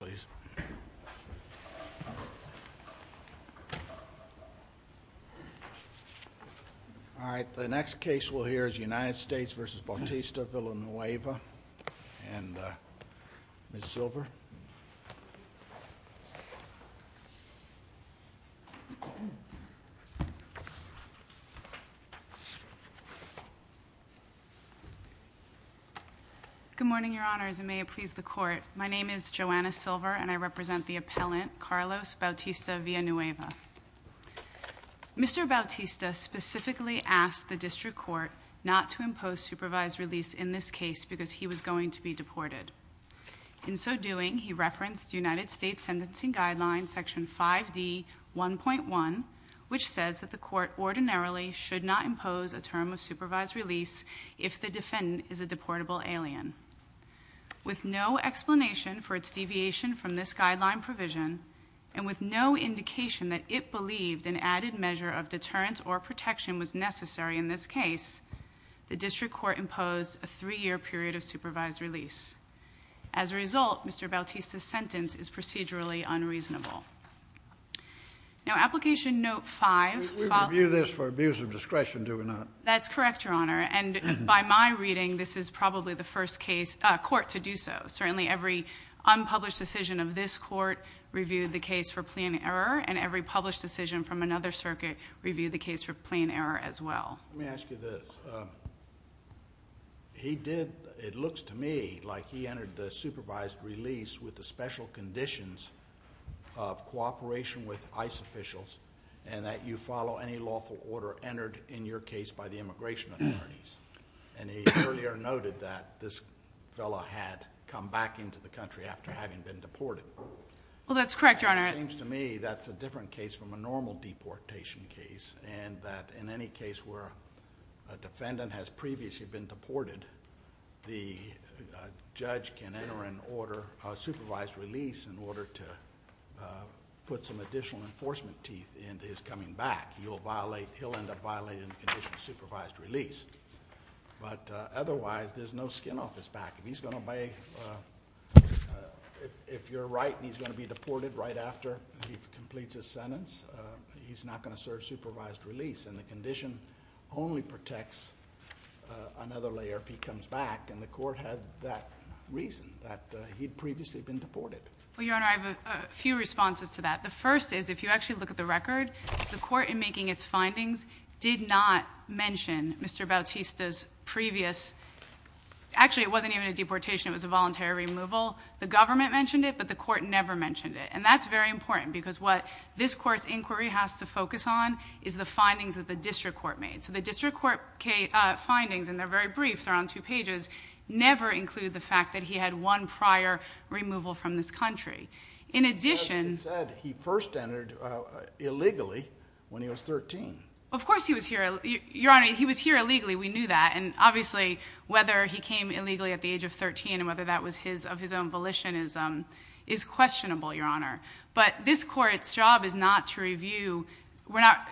All right, the next case we'll hear is United States v. Bautista-Villanueva and Ms. Silver. Good morning, your honors, and may it please the court, my name is Joanna Silver and I represent the appellant, Carlos Bautista-Villanueva. Mr. Bautista specifically asked the district court not to impose supervised release in this case because he was going to be deported. In so doing, he referenced United States Sentencing Guideline Section 5D1.1, which says that the court ordinarily should not impose a term of supervised release if the defendant is a deportable alien. With no explanation for its deviation from this guideline provision, and with no indication that it believed an added measure of deterrence or protection was necessary in this case, the district court imposed a three-year period of supervised release. As a result, Mr. Bautista's sentence is procedurally unreasonable. Now, application note five- We review this for abuse of discretion, do we not? That's correct, your honor, and by my reading, this is probably the first court to do so. Certainly, every unpublished decision of this court reviewed the case for plea and error, and every published decision from another circuit reviewed the case for plea and error as well. Let me ask you this. He did, it looks to me like he entered the supervised release with the special conditions of cooperation with ICE officials, and that you follow any lawful order entered in your case by the immigration authorities. And he earlier noted that this fellow had come back into the country after having been deported. Well, that's correct, your honor. It seems to me that's a different case from a normal deportation case, and that in any case where a defendant has previously been deported, the judge can enter a supervised release in order to put some additional enforcement teeth into his coming back. He'll end up violating the condition of supervised release. But otherwise, there's no skin off his back. If he's going to obey, if you're right and he's going to be deported right after he completes his sentence, he's not going to serve supervised release, and the condition only protects another layer if he comes back. And the court had that reason, that he'd previously been deported. Well, your honor, I have a few responses to that. The first is, if you actually look at the record, the court in making its findings did not mention Mr. Bautista's previous, actually it wasn't even a deportation, it was a voluntary removal. The government mentioned it, but the court never mentioned it. And that's very important, because what this court's inquiry has to focus on is the findings that the district court made. So the district court findings, and they're very brief, they're on two pages, never include the fact that he had one prior removal from this country. In addition- As you said, he first entered illegally when he was 13. Of course he was here, your honor, he was here illegally, we knew that. And obviously, whether he came illegally at the age of 13, and whether that was of his own volition is questionable, your honor. But this court's job is not to review,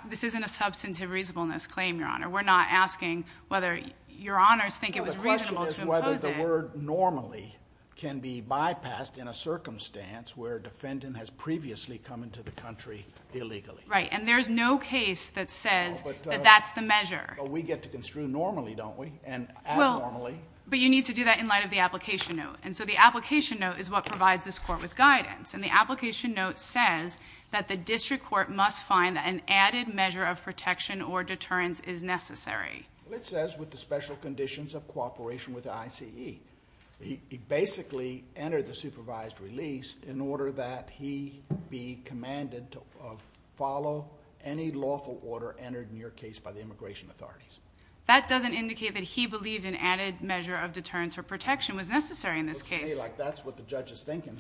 this isn't a substantive reasonableness claim, your honor. We're not asking whether your honors think it was reasonable to impose it. Well, the question is whether the word normally can be bypassed in a circumstance where a defendant has previously come into the country illegally. Right, and there's no case that says that that's the measure. But we get to construe normally, don't we? And add normally. But you need to do that in light of the application note. And so the application note is what provides this court with guidance. And the application note says that the district court must find that an added measure of protection or deterrence is necessary. It says with the special conditions of cooperation with the ICE. He basically entered the supervised release in order that he be That doesn't indicate that he believed an added measure of deterrence or protection was necessary in this case. It looks to me like that's what the judge is thinking.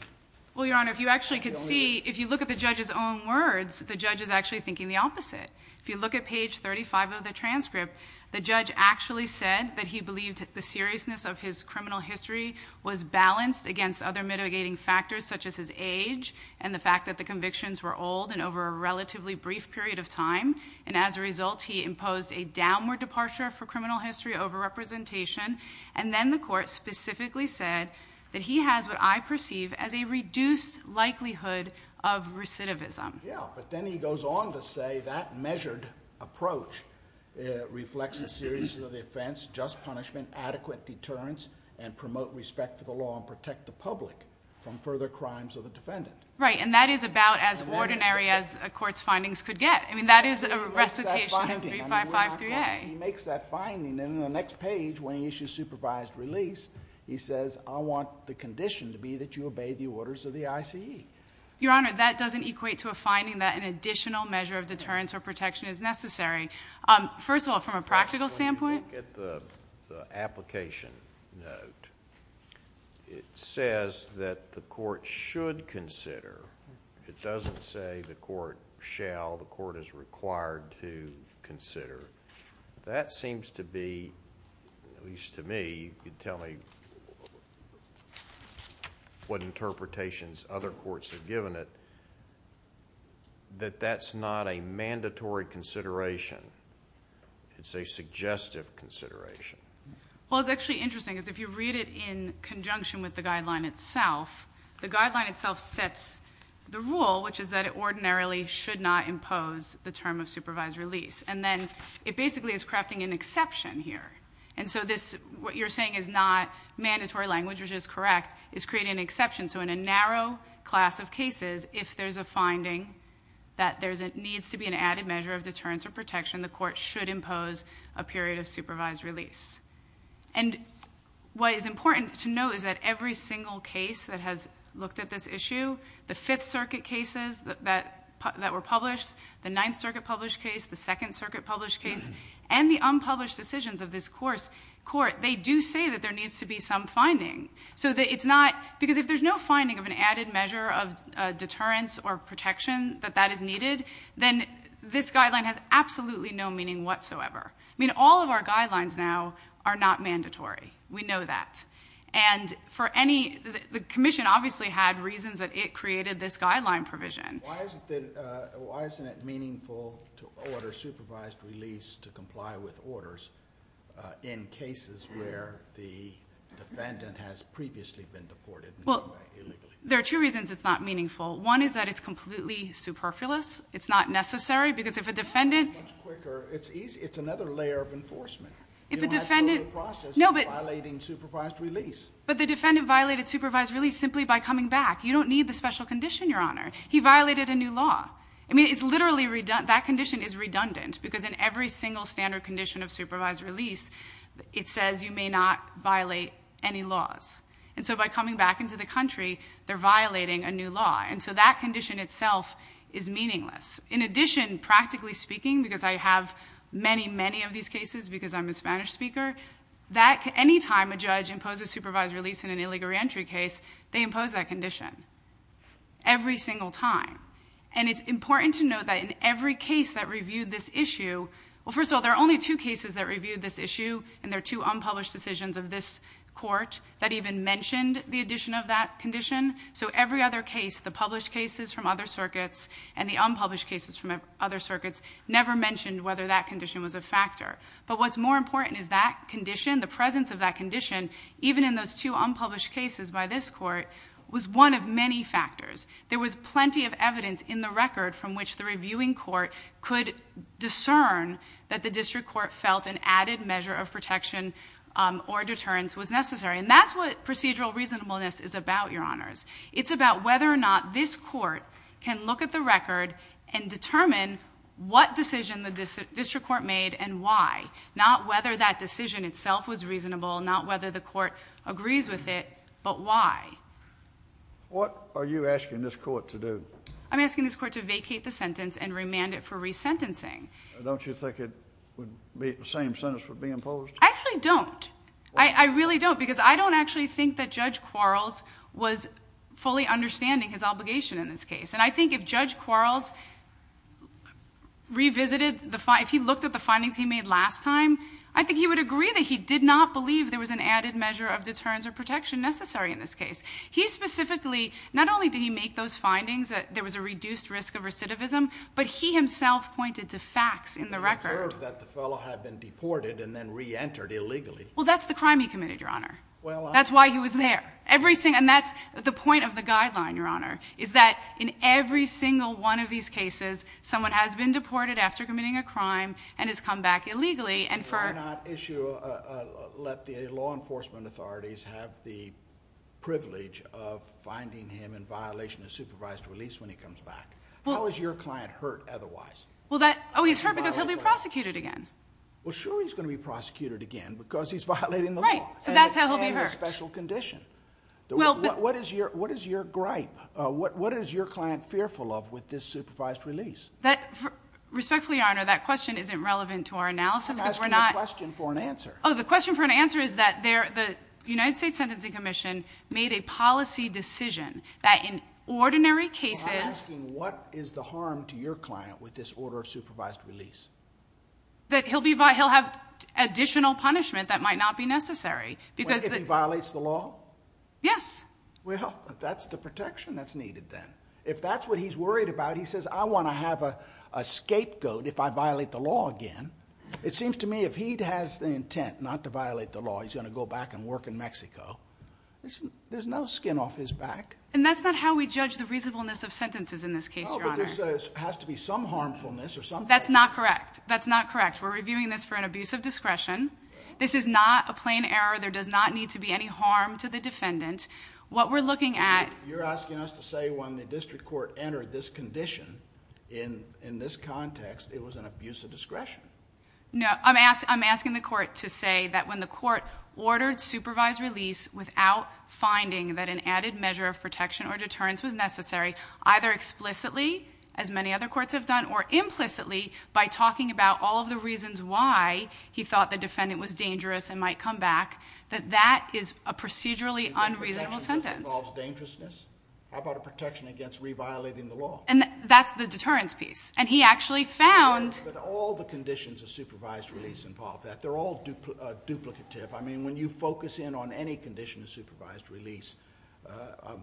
Well, your honor, if you actually could see, if you look at the judge's own words, the judge is actually thinking the opposite. If you look at page 35 of the transcript, the judge actually said that he believed the seriousness of his criminal history was balanced against other mitigating factors such as his age and the fact that the convictions were old and over a relatively brief period of time. And as a result, he imposed a downward departure for criminal history over representation. And then the court specifically said that he has what I perceive as a reduced likelihood of recidivism. Yeah, but then he goes on to say that measured approach reflects the seriousness of the offense, just punishment, adequate deterrence, and promote respect for the law and protect the public from further crimes of the defendant. Right, and that is about as ordinary as a court's findings could get. I mean, that is a recitation of 3553A. He makes that finding, and in the next page, when he issues supervised release, he says, I want the condition to be that you obey the orders of the ICE. Your honor, that doesn't equate to a finding that an additional measure of deterrence or protection is necessary. First of all, from a practical standpoint- When you look at the application note, it says that the court should consider. It doesn't say the court shall, the court is required to consider. That seems to be, at least to me, you can tell me what interpretations other courts have given it, that that's not a mandatory consideration, it's a suggestive consideration. Well, it's actually interesting, because if you read it in conjunction with the guideline itself, the guideline itself sets the rule, which is that it ordinarily should not impose the term of supervised release. And then, it basically is crafting an exception here. And so this, what you're saying is not mandatory language, which is correct, is creating an exception. So in a narrow class of cases, if there's a finding that there needs to be an added measure of deterrence or protection, the court should impose a period of supervised release. And what is important to know is that every single case that has looked at this issue, the Fifth Circuit cases that were published, the Ninth Circuit published case, the Second Circuit published case, and the unpublished decisions of this court, they do say that there needs to be some finding. So it's not, because if there's no finding of an added measure of deterrence or protection that that is needed, then this guideline has absolutely no meaning whatsoever. I mean, all of our guidelines now are not mandatory. We know that. And for any, the commission obviously had reasons that it created this guideline provision. Why isn't it meaningful to order supervised release to comply with orders in cases where the defendant has previously been deported illegally? There are two reasons it's not meaningful. One is that it's completely superfluous. It's not necessary, because if a defendant- It's quicker, it's easy, it's another layer of enforcement. If a defendant- You don't have to go through the process of violating supervised release. But the defendant violated supervised release simply by coming back. You don't need the special condition, your honor. He violated a new law. I mean, it's literally, that condition is redundant, because in every single standard condition of supervised release, it says you may not violate any laws. And so by coming back into the country, they're violating a new law. And so that condition itself is meaningless. In addition, practically speaking, because I have many, many of these cases, because I'm a Spanish speaker, that anytime a judge imposes supervised release in an illegal reentry case, they impose that condition every single time. And it's important to note that in every case that reviewed this issue, well, first of all, there are only two cases that reviewed this issue, and there are two unpublished decisions of this court that even mentioned the addition of that condition. So every other case, the published cases from other circuits and the unpublished cases from other circuits, never mentioned whether that condition was a factor. But what's more important is that condition, the presence of that condition, even in those two unpublished cases by this court, was one of many factors. There was plenty of evidence in the record from which the reviewing court could discern that the district court felt an added measure of protection or deterrence was necessary. And that's what procedural reasonableness is about, your honors. It's about whether or not this court can look at the record and determine what decision the district court made and why. Not whether that decision itself was reasonable, not whether the court agrees with it, but why. What are you asking this court to do? I'm asking this court to vacate the sentence and remand it for resentencing. Don't you think the same sentence would be imposed? I actually don't. I really don't, because I don't actually think that Judge Quarles was fully understanding his obligation in this case. And I think if Judge Quarles revisited, if he looked at the findings he made last time, I think he would agree that he did not believe there was an added measure of deterrence or protection necessary in this case. He specifically, not only did he make those findings that there was a reduced risk of recidivism, but he himself pointed to facts in the record. I heard that the fellow had been deported and then re-entered illegally. Well, that's the crime he committed, your honor. That's why he was there. And that's the point of the guideline, your honor, is that in every single one of these cases, someone has been deported after committing a crime and has come back illegally and for- They did not issue, let the law enforcement authorities have the privilege of finding him in violation of supervised release when he comes back. How is your client hurt otherwise? Well that, he's hurt because he'll be prosecuted again. Well sure he's going to be prosecuted again because he's violating the law. Right, so that's how he'll be hurt. And a special condition. What is your gripe? What is your client fearful of with this supervised release? Respectfully, your honor, that question isn't relevant to our analysis because we're not- I'm asking a question for an answer. The question for an answer is that the United States Sentencing Commission made a policy decision that in ordinary cases- I'm asking what is the harm to your client with this order of supervised release? That he'll be, he'll have additional punishment that might not be necessary because- Wait, if he violates the law? Yes. Well, that's the protection that's needed then. If that's what he's worried about, he says, I want to have a scapegoat if I violate the law again. It seems to me if he has the intent not to violate the law, he's going to go back and work in Mexico. There's no skin off his back. And that's not how we judge the reasonableness of sentences in this case, your honor. No, but there has to be some harmfulness or some- That's not correct. That's not correct. We're reviewing this for an abuse of discretion. This is not a plain error. There does not need to be any harm to the defendant. What we're looking at- You're asking us to say when the district court entered this condition in this context, it was an abuse of discretion. No, I'm asking the court to say that when the court ordered supervised release without finding that an added measure of protection or deterrence was necessary, either explicitly, as many other courts have done, or implicitly by talking about all of the reasons why he thought the defendant was dangerous and might come back, that that is a procedurally unreasonable sentence. The protection involves dangerousness? How about a protection against reviolating the law? And that's the deterrence piece. And he actually found- But all the conditions of supervised release involve that. They're all duplicative. When you focus in on any condition of supervised release,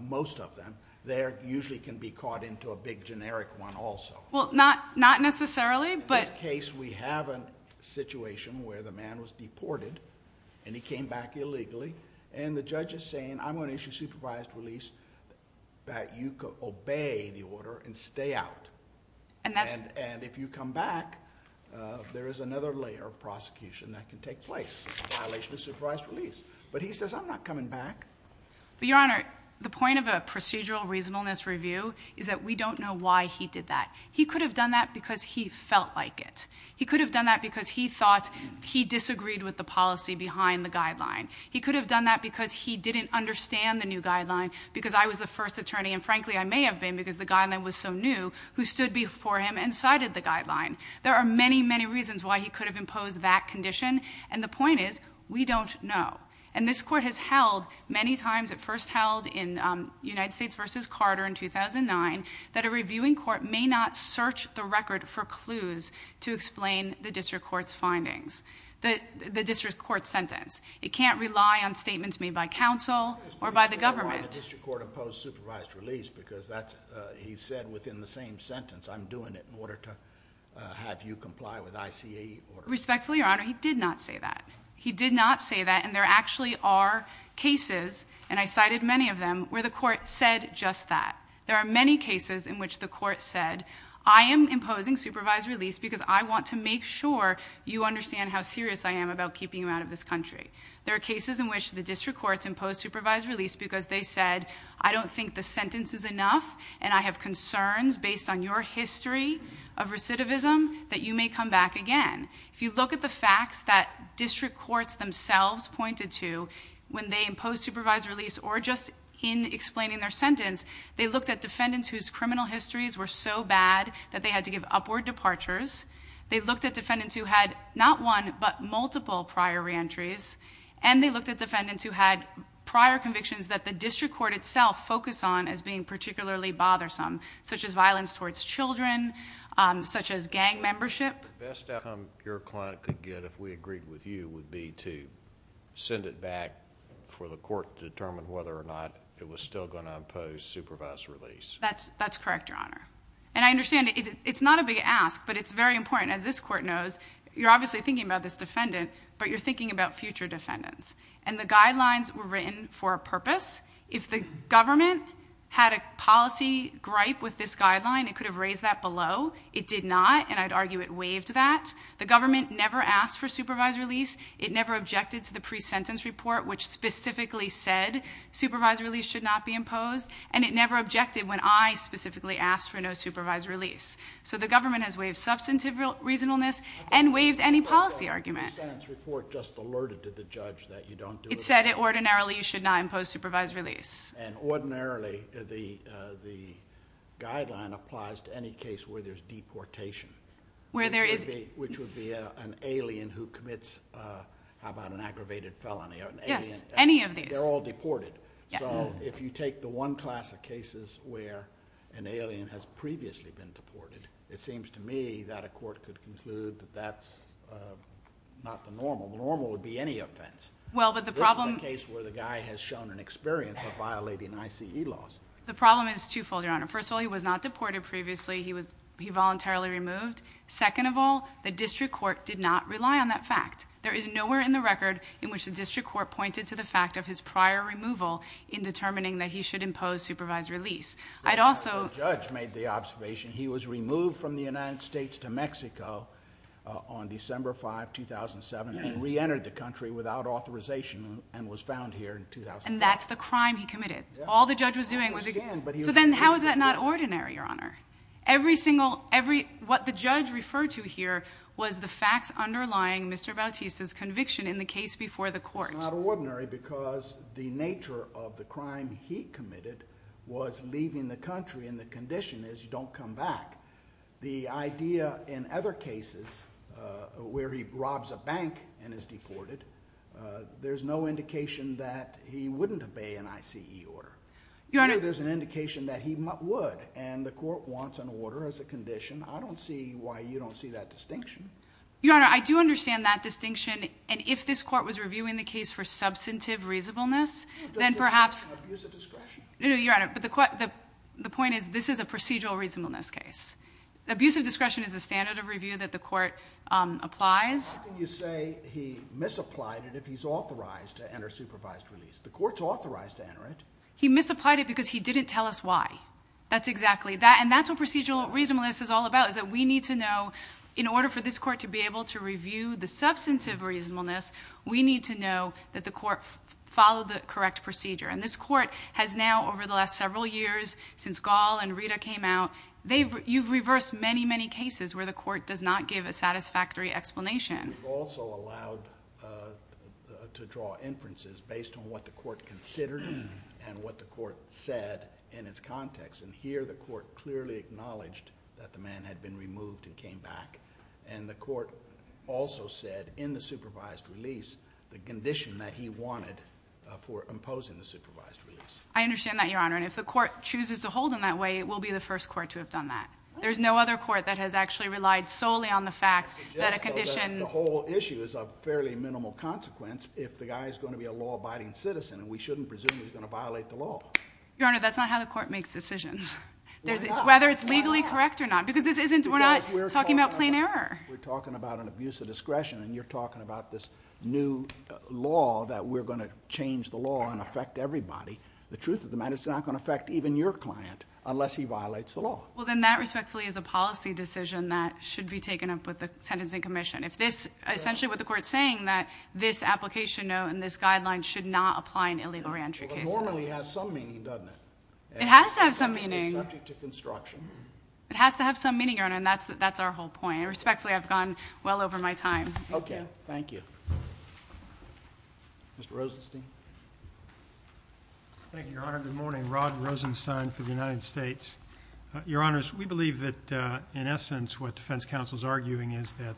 most of them, they usually can be caught into a big generic one also. Well, not necessarily, but- In this case, we have a situation where the man was deported, and he came back illegally, and the judge is saying, I'm going to issue supervised release that you obey the order and stay out. And if you come back, there is another layer of prosecution that can take place. Violation of supervised release. But he says, I'm not coming back. But your honor, the point of a procedural reasonableness review is that we don't know why he did that. He could have done that because he felt like it. He could have done that because he thought he disagreed with the policy behind the guideline. He could have done that because he didn't understand the new guideline, because I was the first attorney, and frankly, I may have been, because the guideline was so new, who stood before him and cited the guideline. There are many, many reasons why he could have imposed that condition, and the point is, we don't know. And this court has held many times, it first held in United States versus Carter in 2009, that a reviewing court may not search the record for clues to explain the district court's findings. The district court's sentence. It can't rely on statements made by counsel or by the government. The district court imposed supervised release because he said within the same sentence, I'm doing it in order to have you comply with ICA order. Respectfully, your honor, he did not say that. He did not say that, and there actually are cases, and I cited many of them, where the court said just that. There are many cases in which the court said, I am imposing supervised release because I want to make sure you understand how serious I am about keeping you out of this country. There are cases in which the district courts impose supervised release because they said, I don't think the sentence is enough, and I have concerns based on your history of recidivism that you may come back again. If you look at the facts that district courts themselves pointed to when they imposed supervised release or just in explaining their sentence, they looked at defendants whose criminal histories were so bad that they had to give upward departures. They looked at defendants who had not one, but multiple prior reentries. And they looked at defendants who had prior convictions that the district court itself focused on as being particularly bothersome, such as violence towards children, such as gang membership. The best outcome your client could get if we agreed with you would be to send it back for the court to determine whether or not it was still going to impose supervised release. That's correct, your honor. And I understand it's not a big ask, but it's very important. As this court knows, you're obviously thinking about this defendant, but you're thinking about future defendants. And the guidelines were written for a purpose. If the government had a policy gripe with this guideline, it could have raised that below. It did not, and I'd argue it waived that. The government never asked for supervised release. It never objected to the pre-sentence report, which specifically said supervised release should not be imposed. And it never objected when I specifically asked for no supervised release. So the government has waived substantive reasonableness and waived any policy argument. The pre-sentence report just alerted to the judge that you don't do- It said that ordinarily you should not impose supervised release. And ordinarily the guideline applies to any case where there's deportation. Where there is- Which would be an alien who commits, how about an aggravated felony, or an alien- Yes, any of these. They're all deported. So if you take the one class of cases where an alien has previously been deported, it seems to me that a court could conclude that that's not the normal. The normal would be any offense. Well, but the problem- This is a case where the guy has shown an experience of violating ICE laws. The problem is two-fold, Your Honor. First of all, he was not deported previously, he voluntarily removed. Second of all, the district court did not rely on that fact. There is nowhere in the record in which the district court pointed to the fact of his prior removal in determining that he should impose supervised release. I'd also- The judge made the observation he was removed from the United States to Mexico on December 5, 2007, and re-entered the country without authorization and was found here in 2005. And that's the crime he committed. All the judge was doing was- I understand, but he was- So then how is that not ordinary, Your Honor? Every single, every, what the judge referred to here was the facts underlying Mr. Bautista's conviction in the case before the court. It's not ordinary because the nature of the crime he committed was leaving the country, and the condition is you don't come back. The idea in other cases where he robs a bank and is deported, there's no indication that he wouldn't obey an ICE order. Your Honor- If the court wants an order as a condition, I don't see why you don't see that distinction. Your Honor, I do understand that distinction. And if this court was reviewing the case for substantive reasonableness, then perhaps- Does discretion abuse a discretion? No, Your Honor, but the point is this is a procedural reasonableness case. Abusive discretion is a standard of review that the court applies. How can you say he misapplied it if he's authorized to enter supervised release? The court's authorized to enter it. He misapplied it because he didn't tell us why. That's exactly that, and that's what procedural reasonableness is all about, is that we need to know, in order for this court to be able to review the substantive reasonableness, we need to know that the court followed the correct procedure. And this court has now, over the last several years, since Gall and Rita came out, you've reversed many, many cases where the court does not give a satisfactory explanation. We've also allowed to draw inferences based on what the court considered and what the court said in its context. And here, the court clearly acknowledged that the man had been removed and came back. And the court also said, in the supervised release, the condition that he wanted for imposing the supervised release. I understand that, Your Honor. And if the court chooses to hold him that way, it will be the first court to have done that. There's no other court that has actually relied solely on the fact that a condition- The whole issue is of fairly minimal consequence if the guy is going to be a law-abiding citizen. And we shouldn't presume he's going to violate the law. Your Honor, that's not how the court makes decisions. Whether it's legally correct or not. Because this isn't, we're not talking about plain error. We're talking about an abuse of discretion. And you're talking about this new law that we're going to change the law and affect everybody. The truth of the matter is it's not going to affect even your client unless he violates the law. Well, then that respectfully is a policy decision that should be taken up with the sentencing commission. If this, essentially what the court's saying, that this application note and this guideline should not apply in illegal re-entry cases. It normally has some meaning, doesn't it? It has to have some meaning. It's subject to construction. It has to have some meaning, Your Honor, and that's our whole point. And respectfully, I've gone well over my time. Okay, thank you. Mr. Rosenstein. Thank you, Your Honor. Good morning. Rod Rosenstein for the United States. Your Honors, we believe that in essence what defense counsel's arguing is that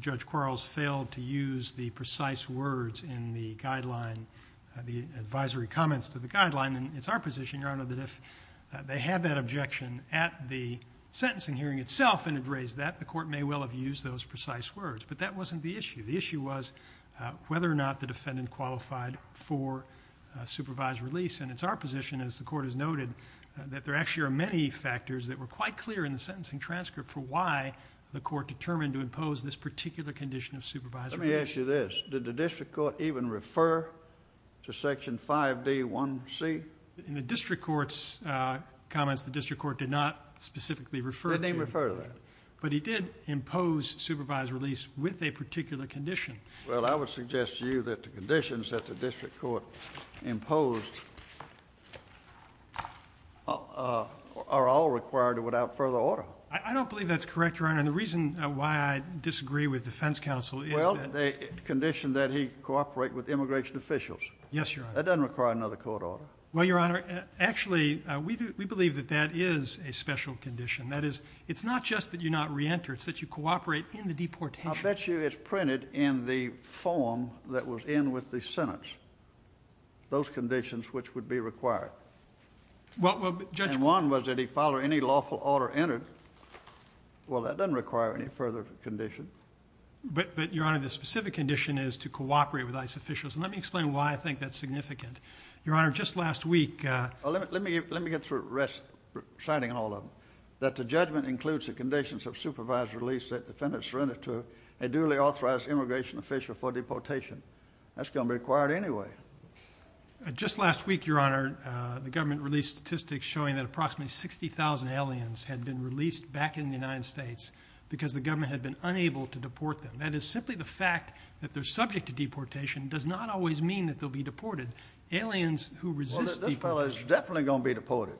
Judge Quarles failed to use the precise words in the guideline, the advisory comments to the guideline. And it's our position, Your Honor, that if they had that objection at the sentencing hearing itself and had raised that, the court may well have used those precise words. But that wasn't the issue. The issue was whether or not the defendant qualified for supervised release. And it's our position, as the court has noted, that there actually are many factors that were quite clear in the sentencing transcript for why the court determined to impose this particular condition of supervised release. Let me ask you this. Did the district court even refer to section 5D1C? In the district court's comments, the district court did not specifically refer to. Didn't even refer to that. But he did impose supervised release with a particular condition. Well, I would suggest to you that the conditions that the district court imposed are all required without further order. I don't believe that's correct, Your Honor. And the reason why I disagree with defense counsel is that- Well, the condition that he cooperate with immigration officials. Yes, Your Honor. That doesn't require another court order. Well, Your Honor, actually, we believe that that is a special condition. That is, it's not just that you're not re-entered, it's that you cooperate in the deportation. I bet you it's printed in the form that was in with the sentence, those conditions which would be required. Well, Judge- And one was that he follow any lawful order entered. Well, that doesn't require any further condition. But, Your Honor, the specific condition is to cooperate with ICE officials. And let me explain why I think that's significant. Your Honor, just last week- Let me get through reciting all of them. That the judgment includes the conditions of supervised release that defendants surrender to a duly authorized immigration official for deportation. That's going to be required anyway. Just last week, Your Honor, the government released statistics showing that approximately 60,000 aliens had been released back in the United States because the government had been unable to deport them. That is simply the fact that they're subject to deportation does not always mean that they'll be deported. Aliens who resist deportation- Well, this fellow is definitely going to be deported.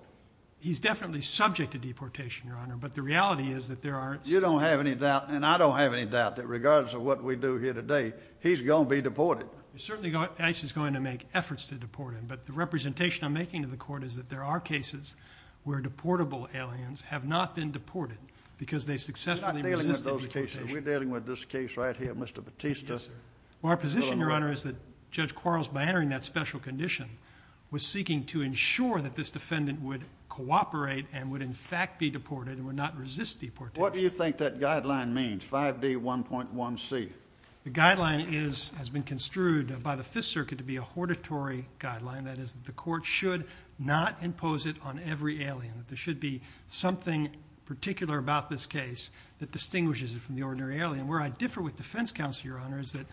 He's definitely subject to deportation, Your Honor, but the reality is that there are- You don't have any doubt, and I don't have any doubt that regardless of what we do here today, he's going to be deported. Certainly, ICE is going to make efforts to deport him, but the representation I'm making to the court is that there are cases where deportable aliens have not been deported because they successfully resisted deportation. We're dealing with this case right here, Mr. Bautista. Our position, Your Honor, is that Judge Quarles, by entering that special condition, was seeking to ensure that this defendant would cooperate and would, in fact, be deported and would not resist deportation. What do you think that guideline means, 5D1.1C? The guideline has been construed by the Fifth Circuit to be a hortatory guideline. That is, the court should not impose it on every alien. There should be something particular about this case that distinguishes it from the ordinary alien. Where I differ with defense counsel, Your Honor, is that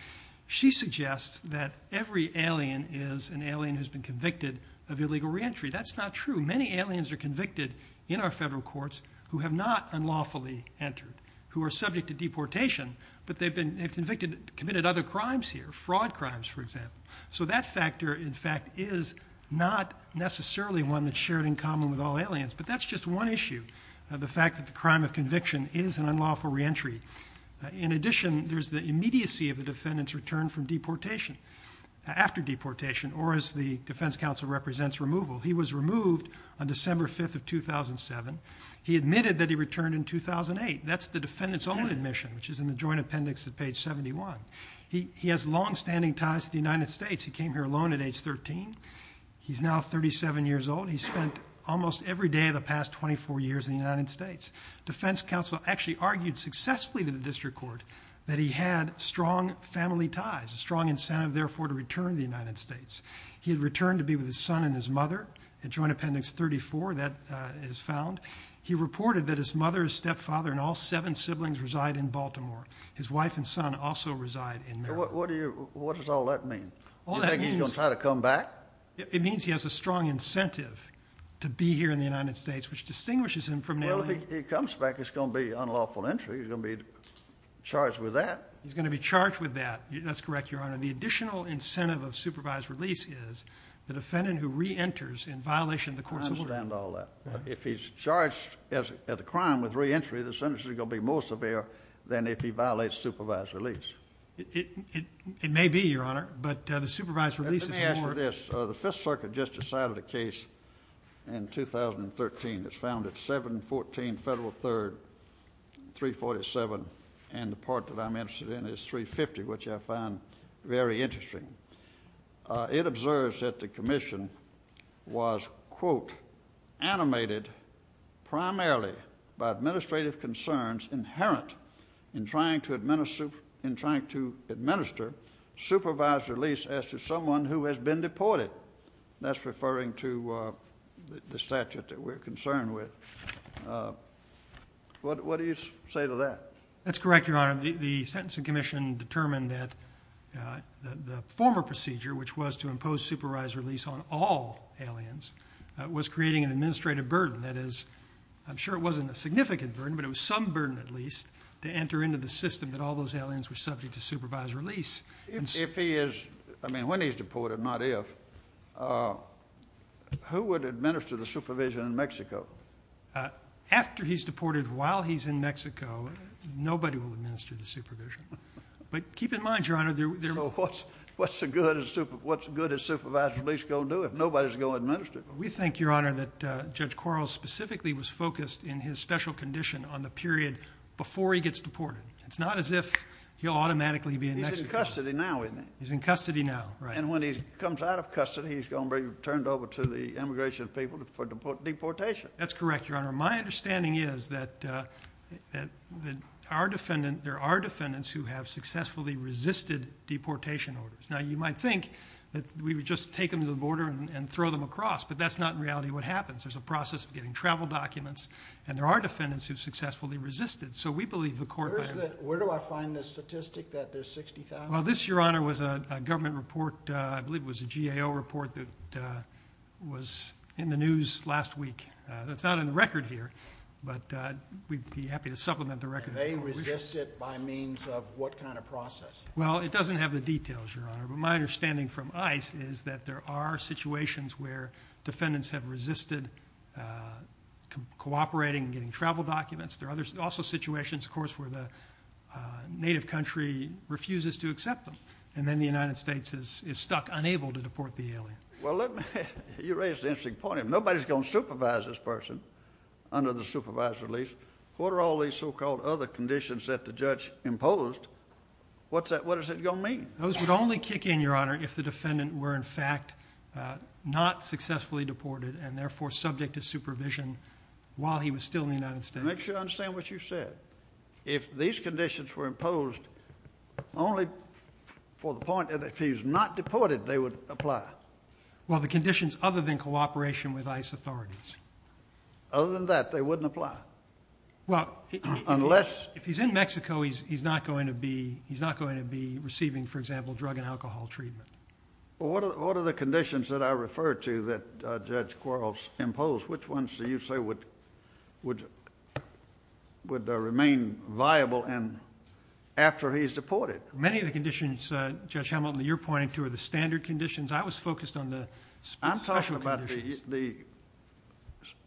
she suggests that every alien is an alien who's been convicted of illegal reentry. That's not true. Many aliens are convicted in our federal courts who have not unlawfully entered, who are subject to deportation, but they've committed other crimes here, fraud crimes, for example. So that factor, in fact, is not necessarily one that's shared in common with all aliens. But that's just one issue, the fact that the crime of conviction is an unlawful reentry. In addition, there's the immediacy of the defendant's return from deportation, after deportation, or as the defense counsel represents, removal. He was removed on December 5th of 2007. He admitted that he returned in 2008. That's the defendant's own admission, which is in the joint appendix at page 71. He has longstanding ties to the United States. He came here alone at age 13. He's now 37 years old. He spent almost every day of the past 24 years in the United States. Defense counsel actually argued successfully to the district court that he had strong family ties, a strong incentive, therefore, to return to the United States. He had returned to be with his son and his mother, in joint appendix 34, that is found. He reported that his mother, his stepfather, and all seven siblings reside in Baltimore. His wife and son also reside in there. What does all that mean? All that means- You think he's going to try to come back? It means he has a strong incentive to be here in the United States, which distinguishes him from- Well, if he comes back, it's going to be unlawful entry. He's going to be charged with that. He's going to be charged with that. That's correct, Your Honor. The additional incentive of supervised release is the defendant who re-enters in violation of the courts of- I understand all that. If he's charged as a crime with re-entry, the sentence is going to be more severe than if he violates supervised release. It may be, Your Honor, but the supervised release is more- Let me ask you this. The Fifth Circuit just decided a case in 2013. It's found at 714 Federal 3rd, 347, and the part that I'm interested in is 350, which I find very interesting. It observes that the commission was, quote, animated primarily by administrative concerns inherent in trying to administer supervised release as to someone who has been deported. That's referring to the statute that we're concerned with. What do you say to that? That's correct, Your Honor. The sentencing commission determined that the former procedure, which was to impose supervised release on all aliens, was creating an administrative burden. That is, I'm sure it wasn't a significant burden, but it was some burden at least to enter into the system that all those aliens were subject to supervised release. If he is- I mean, when he's deported, not if, who would administer the supervision in Mexico? After he's deported, while he's in Mexico, nobody will administer the supervision. But keep in mind, Your Honor, there- What's good a supervised release going to do if nobody's going to administer it? We think, Your Honor, that Judge Quarles specifically was focused in his special condition on the period before he gets deported. It's not as if he'll automatically be in Mexico. He's in custody now, isn't he? He's in custody now, right. And when he comes out of custody, he's going to be turned over to the immigration people for deportation. That's correct, Your Honor. My understanding is that there are defendants who have successfully resisted deportation orders. Now, you might think that we would just take them to the border and throw them across, but that's not in reality what happens. There's a process of getting travel documents, and there are defendants who successfully resisted. So we believe the court- Where do I find the statistic that there's 60,000? Well, this, Your Honor, was a government report. I believe it was a GAO report that was in the news last week. That's not in the record here, but we'd be happy to supplement the record. Do they resist it by means of what kind of process? Well, it doesn't have the details, Your Honor. But my understanding from ICE is that there are situations where defendants have resisted cooperating and getting travel documents. There are also situations, of course, where the native country refuses to accept them. And then the United States is stuck, unable to deport the alien. Well, look, you raise an interesting point. If nobody's going to supervise this person under the supervised release, what are all these so-called other conditions that the judge imposed? What is it going to mean? Those would only kick in, Your Honor, if the defendant were, in fact, not successfully deported and, therefore, subject to supervision while he was still in the United States. Make sure I understand what you said. If these conditions were imposed only for the point that if he was not deported, they would apply. Well, the conditions other than cooperation with ICE authorities. Other than that, they wouldn't apply? Well, if he's in Mexico, he's not going to be receiving, for example, drug and alcohol treatment. Well, what are the conditions that I referred to that Judge Quarles imposed? Which ones do you say would remain viable after he's deported? Many of the conditions, Judge Hamilton, that you're pointing to are the standard conditions. I was focused on the special conditions. I'm talking about the,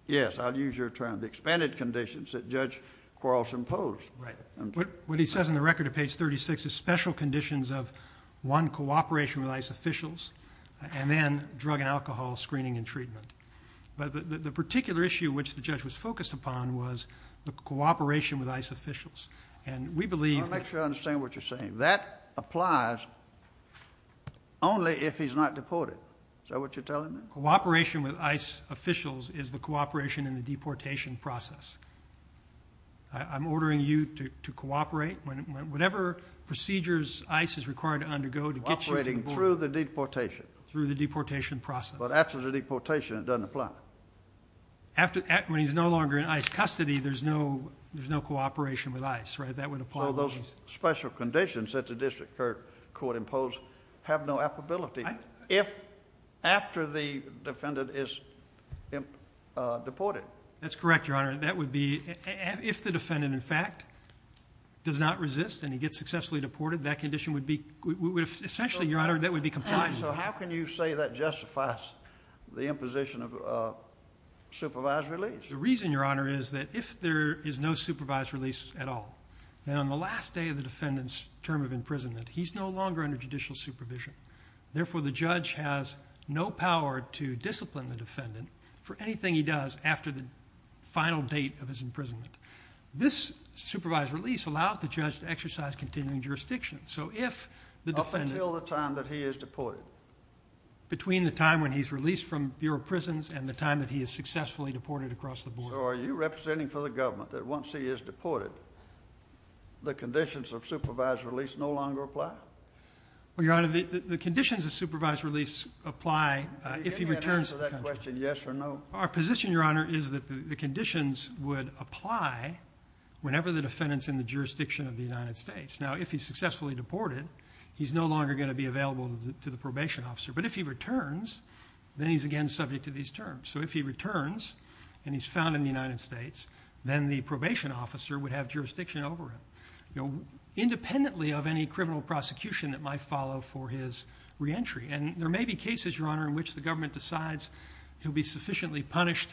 yes, I'll use your term, the expanded conditions that Judge Quarles imposed. Right. What he says on the record at page 36 is special conditions of, one, cooperation with ICE officials, and then drug and alcohol screening and treatment. But the particular issue which the judge was focused upon was the cooperation with ICE officials. And we believe that— I want to make sure I understand what you're saying. That applies only if he's not deported. Is that what you're telling me? Cooperation with ICE officials is the cooperation in the deportation process. I'm ordering you to cooperate. Whatever procedures ICE is required to undergo to get you— Cooperating through the deportation. Through the deportation process. But after the deportation, it doesn't apply. When he's no longer in ICE custody, there's no cooperation with ICE, right? So those special conditions that the District Court imposed have no applicability after the defendant is deported. That's correct, Your Honor. That would be—if the defendant, in fact, does not resist and he gets successfully deported, that condition would be—essentially, Your Honor, that would be compliant. So how can you say that justifies the imposition of supervised release? The reason, Your Honor, is that if there is no supervised release at all, then on the last day of the defendant's term of imprisonment, he's no longer under judicial supervision. Therefore, the judge has no power to discipline the defendant for anything he does after the final date of his imprisonment. This supervised release allows the judge to exercise continuing jurisdiction. So if the defendant— Up until the time that he is deported? Between the time when he's released from Bureau of Prisons and the time that he is successfully deported across the board. So are you representing for the government that once he is deported, the conditions of supervised release no longer apply? Well, Your Honor, the conditions of supervised release apply if he returns to the country. Can you give me an answer to that question, yes or no? Our position, Your Honor, is that the conditions would apply whenever the defendant's in the jurisdiction of the United States. Now, if he's successfully deported, he's no longer going to be available to the probation officer. But if he returns, then he's again subject to these terms. So if he returns and he's found in the United States, then the probation officer would have jurisdiction over him, independently of any criminal prosecution that might follow for his reentry. And there may be cases, Your Honor, in which the government decides he'll be sufficiently punished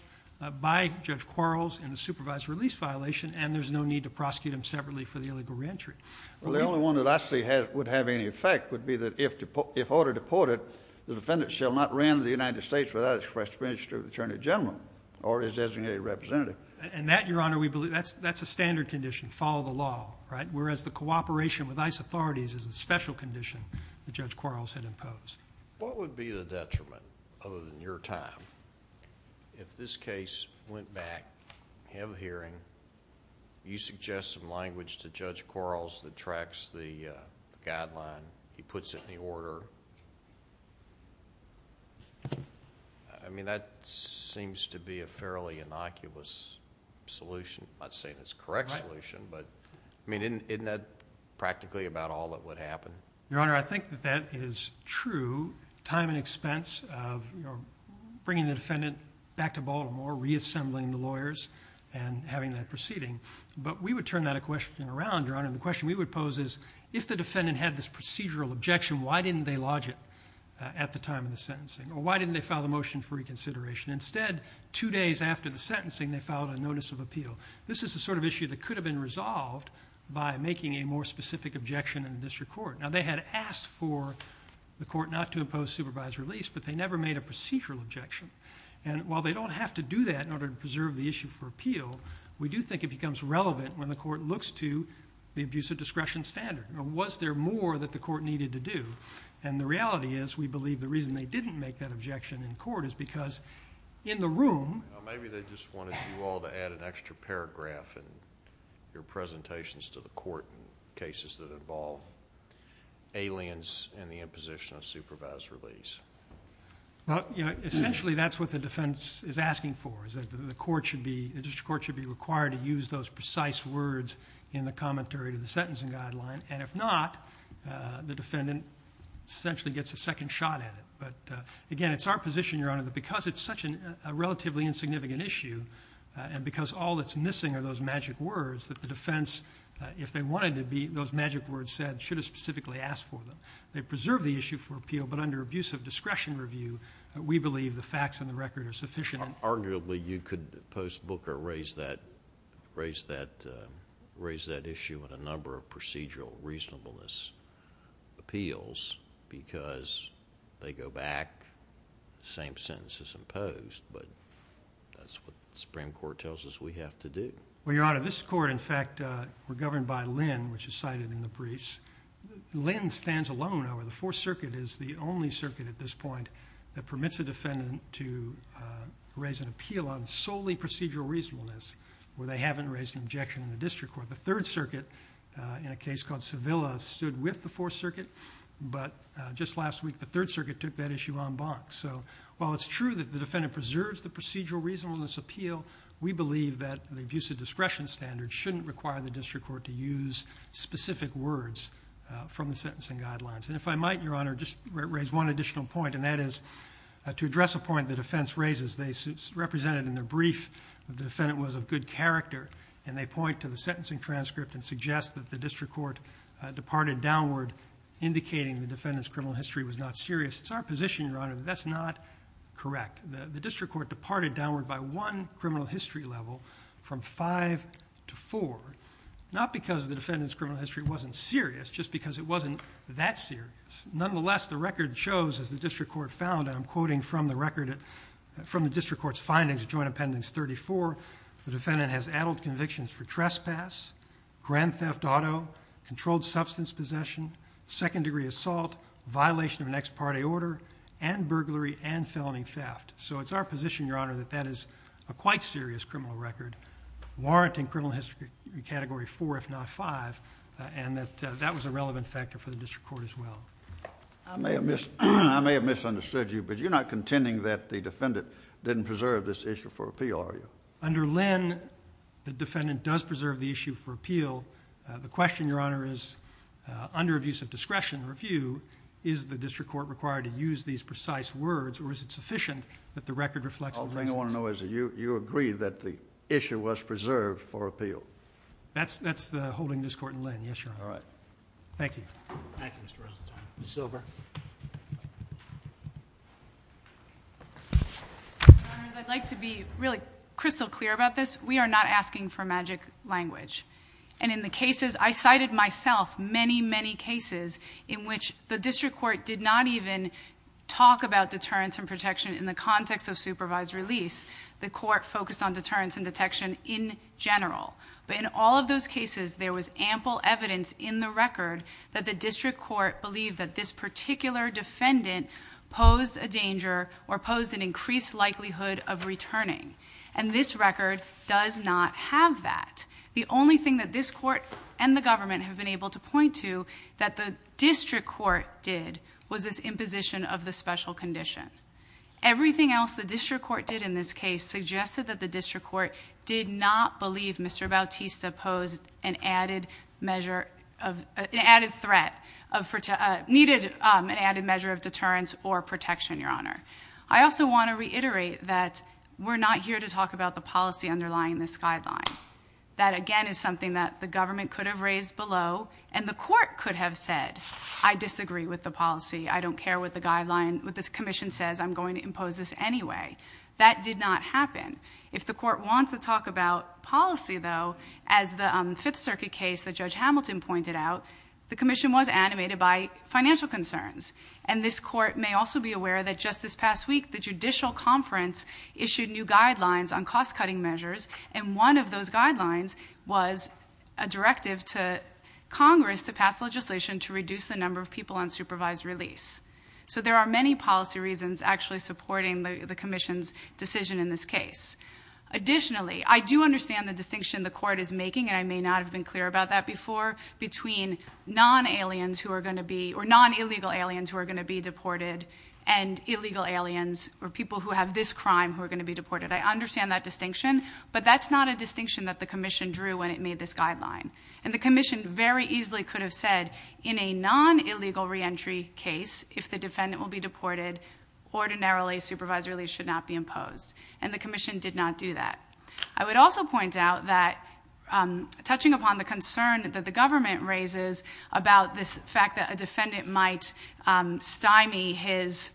by Judge Quarles in the supervised release violation and there's no need to prosecute him separately for the illegal reentry. Well, the only one that actually would have any effect would be that if ordered deported, the defendant shall not reenter the United States without express permission of the Attorney General or his designated representative. And that, Your Honor, that's a standard condition, follow the law, right? Whereas the cooperation with ICE authorities is a special condition that Judge Quarles had imposed. What would be the detriment, other than your time, if this case went back, you have a hearing, and he puts it in the order? I mean, that seems to be a fairly innocuous solution. I'm not saying it's the correct solution, but I mean, isn't that practically about all that would happen? Your Honor, I think that that is true, time and expense of bringing the defendant back to Baltimore, reassembling the lawyers, and having that proceeding. But we would turn that question around, Your Honor. The question we would pose is, if the defendant had this procedural objection, why didn't they lodge it at the time of the sentencing? Or why didn't they file the motion for reconsideration? Instead, two days after the sentencing, they filed a notice of appeal. This is the sort of issue that could have been resolved by making a more specific objection in the district court. Now, they had asked for the court not to impose supervised release, but they never made a procedural objection. We do think it becomes relevant when the court looks to the abuse of discretion standard. Was there more that the court needed to do? And the reality is, we believe the reason they didn't make that objection in court is because in the room... Maybe they just wanted you all to add an extra paragraph in your presentations to the court in cases that involve aliens and the imposition of supervised release. Essentially, that's what the defense is asking for, is that the court should be required to use those precise words in the commentary to the sentencing guideline. And if not, the defendant essentially gets a second shot at it. But again, it's our position, Your Honor, that because it's such a relatively insignificant issue, and because all that's missing are those magic words, that the defense, if they wanted to be, those magic words said, should have specifically asked for them. They preserved the issue for appeal, but under abuse of discretion review, we believe the facts and the record are sufficient. Arguably, you could post book or raise that issue on a number of procedural reasonableness appeals because they go back, same sentence as imposed, but that's what the Supreme Court tells us we have to do. Well, Your Honor, this court, in fact, were governed by Lynn, which is cited in the briefs. Lynn stands alone over the Fourth Circuit, is the only circuit at this point that permits a defendant to raise an appeal on solely procedural reasonableness where they haven't raised an objection in the district court. The Third Circuit, in a case called Sevilla, stood with the Fourth Circuit, but just last week, the Third Circuit took that issue en banc. So while it's true that the defendant preserves the procedural reasonableness appeal, we believe that the abuse of discretion standard shouldn't require the district court to use specific words from the sentencing guidelines. And if I might, Your Honor, just raise one additional point, and that is to address a point the defense raises. They represent it in their brief that the defendant was of good character, and they point to the sentencing transcript and suggest that the district court departed downward indicating the defendant's criminal history was not serious. It's our position, Your Honor, that that's not correct. The district court departed downward by one criminal history level from 5 to 4, not because the defendant's criminal history wasn't serious, just because it wasn't that serious. Nonetheless, the record shows, as the district court found, and I'm quoting from the record, from the district court's findings, Joint Appendix 34, the defendant has addled convictions for trespass, grand theft auto, controlled substance possession, second-degree assault, violation of an ex parte order, and burglary and felony theft. So it's our position, Your Honor, that that is a quite serious criminal record, warranting criminal history category 4, if not 5, and that that was a relevant factor for the district court as well. I may have misunderstood you, but you're not contending that the defendant didn't preserve this issue for appeal, are you? Under Lynn, the defendant does preserve the issue for appeal. The question, Your Honor, is, under abuse of discretion review, is the district court required to use these precise words, or is it sufficient that the record reflects... All I want to know is that you agree that the issue was preserved for appeal. That's the holding of this court in Lynn, yes, Your Honor. All right. Thank you. Thank you, Mr. Rosenthal. Ms. Silver. Your Honors, I'd like to be really crystal clear about this. We are not asking for magic language. And in the cases... I cited myself many, many cases in which the district court did not even talk about deterrence and protection in the context of supervised release. The court focused on deterrence and detection in general. But in all of those cases, there was ample evidence in the record that the district court believed that this particular defendant posed a danger or posed an increased likelihood of returning. And this record does not have that. The only thing that this court and the government have been able to point to that the district court did was this imposition of the special condition. Everything else the district court did in this case suggested that the district court did not believe Mr. Bautista posed an added measure... an added threat... needed an added measure of deterrence or protection, Your Honor. I also want to reiterate that we're not here to talk about the policy underlying this guideline. That, again, is something that the government could have raised below, and the court could have said, I disagree with the policy, I don't care what this commission says, I'm going to impose this anyway. That did not happen. If the court wants to talk about policy, though, as the Fifth Circuit case that Judge Hamilton pointed out, the commission was animated by financial concerns. And this court may also be aware that just this past week, the judicial conference issued new guidelines on cost-cutting measures, and one of those guidelines was a directive to Congress to pass legislation to reduce the number of people on supervised release. So there are many policy reasons actually supporting the commission's decision in this case. Additionally, I do understand the distinction the court is making, and I may not have been clear about that before, between non-aliens who are going to be... or non-illegal aliens who are going to be deported and illegal aliens, or people who have this crime who are going to be deported. I understand that distinction, but that's not a distinction that the commission drew when it made this guideline. And the commission very easily could have said, in a non-illegal reentry case, if the defendant will be deported, ordinarily supervised release should not be imposed. And the commission did not do that. I would also point out that, touching upon the concern that the government raises about this fact that a defendant might stymie his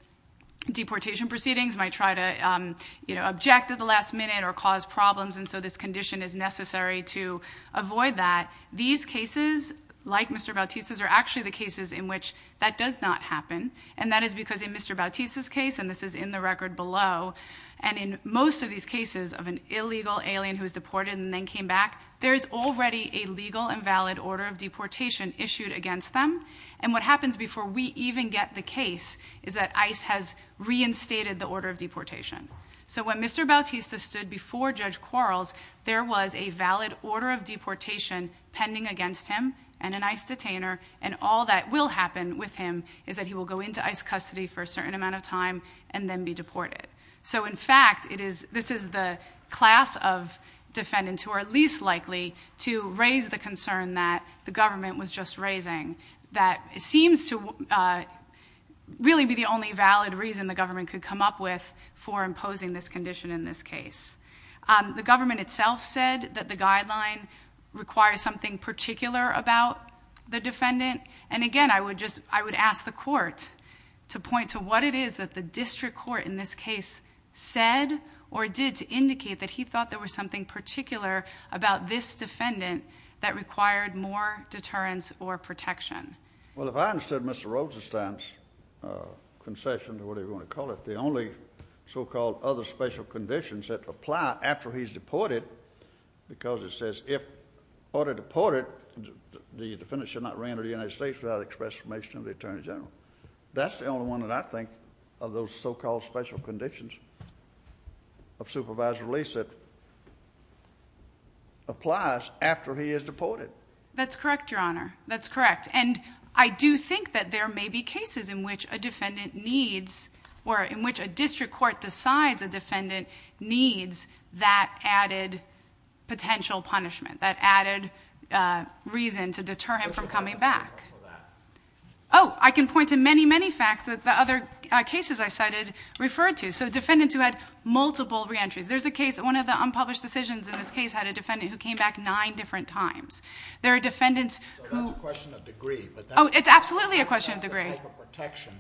deportation proceedings, might try to, you know, object at the last minute or cause problems, and so this condition is necessary to avoid that, these cases, like Mr. Bautista's, are actually the cases in which that does not happen, and that is because in Mr. Bautista's case, and this is in the record below, and in most of these cases of an illegal alien who was deported and then came back, there is already a legal and valid order of deportation issued against them, and what happens before we even get the case is that ICE has reinstated the order of deportation. So when Mr. Bautista stood before Judge Quarles, there was a valid order of deportation pending against him, and an ICE detainer, and all that will happen with him is that he will go into ICE custody for a certain amount of time and then be deported. So in fact, this is the class of defendants who are least likely to raise the concern that the government was just raising, that seems to really be the only valid reason the government could come up with for imposing this condition in this case. The government itself said that the guideline requires something particular about the defendant, and again I would ask the court to point to what it is that the district court in this case said or did to indicate that he thought there was something particular about this defendant that required more deterrence or protection. Well, if I understood Mr. Rosenstein's concession, or whatever you want to call it, the only so-called other special conditions that apply after he's deported because it says if order deported the defendant should not re-enter the United States without express permission of the Attorney General. That's the only one that I think of those so-called special conditions of supervised release that applies after he is deported. That's correct, Your Honor. That's correct. And I do think that there may be cases in which a defendant needs, or in which a district court decides a defendant needs that added potential punishment, that added reason to deter him from coming back. Oh, I can point to many, many facts that the other cases I cited referred to. So defendants who had multiple re-entries. There's a case, one of the unpublished decisions in this case had a defendant who came back nine different times. There are defendants who... So that's a question of degree. Oh, it's absolutely a question of degree. That's the type of protection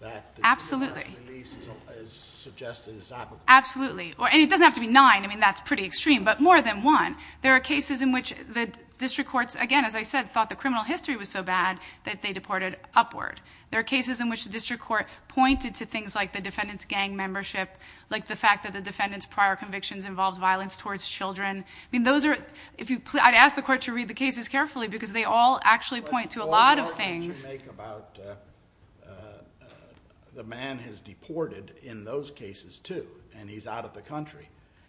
that the special release is suggested to this applicant. Absolutely. And it doesn't have to be nine. I mean, that's pretty extreme. But more than one. There are cases in which the district courts, again, as I said, thought the criminal history was so bad that they deported upward. There are cases in which the district court pointed to things like the defendant's gang membership, like the fact that the defendant's prior convictions involved violence towards children. I mean, those are... I'd ask the court to read the cases carefully because they all actually point to a lot of things. What you make about the man has a gun, too, and he's out of the country.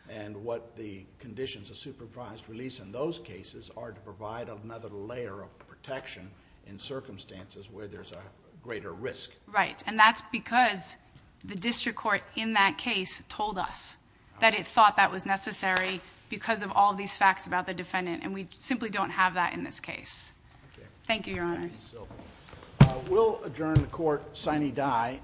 And what the conditions of supervised release in those cases are to provide another layer of protection in circumstances where there's a greater risk. Right. And that's because the district court in that case told us that it thought that was necessary because of all these facts about the defendant and we simply don't have that in this case. Thank you, Your Honor. We'll adjourn the court sine die.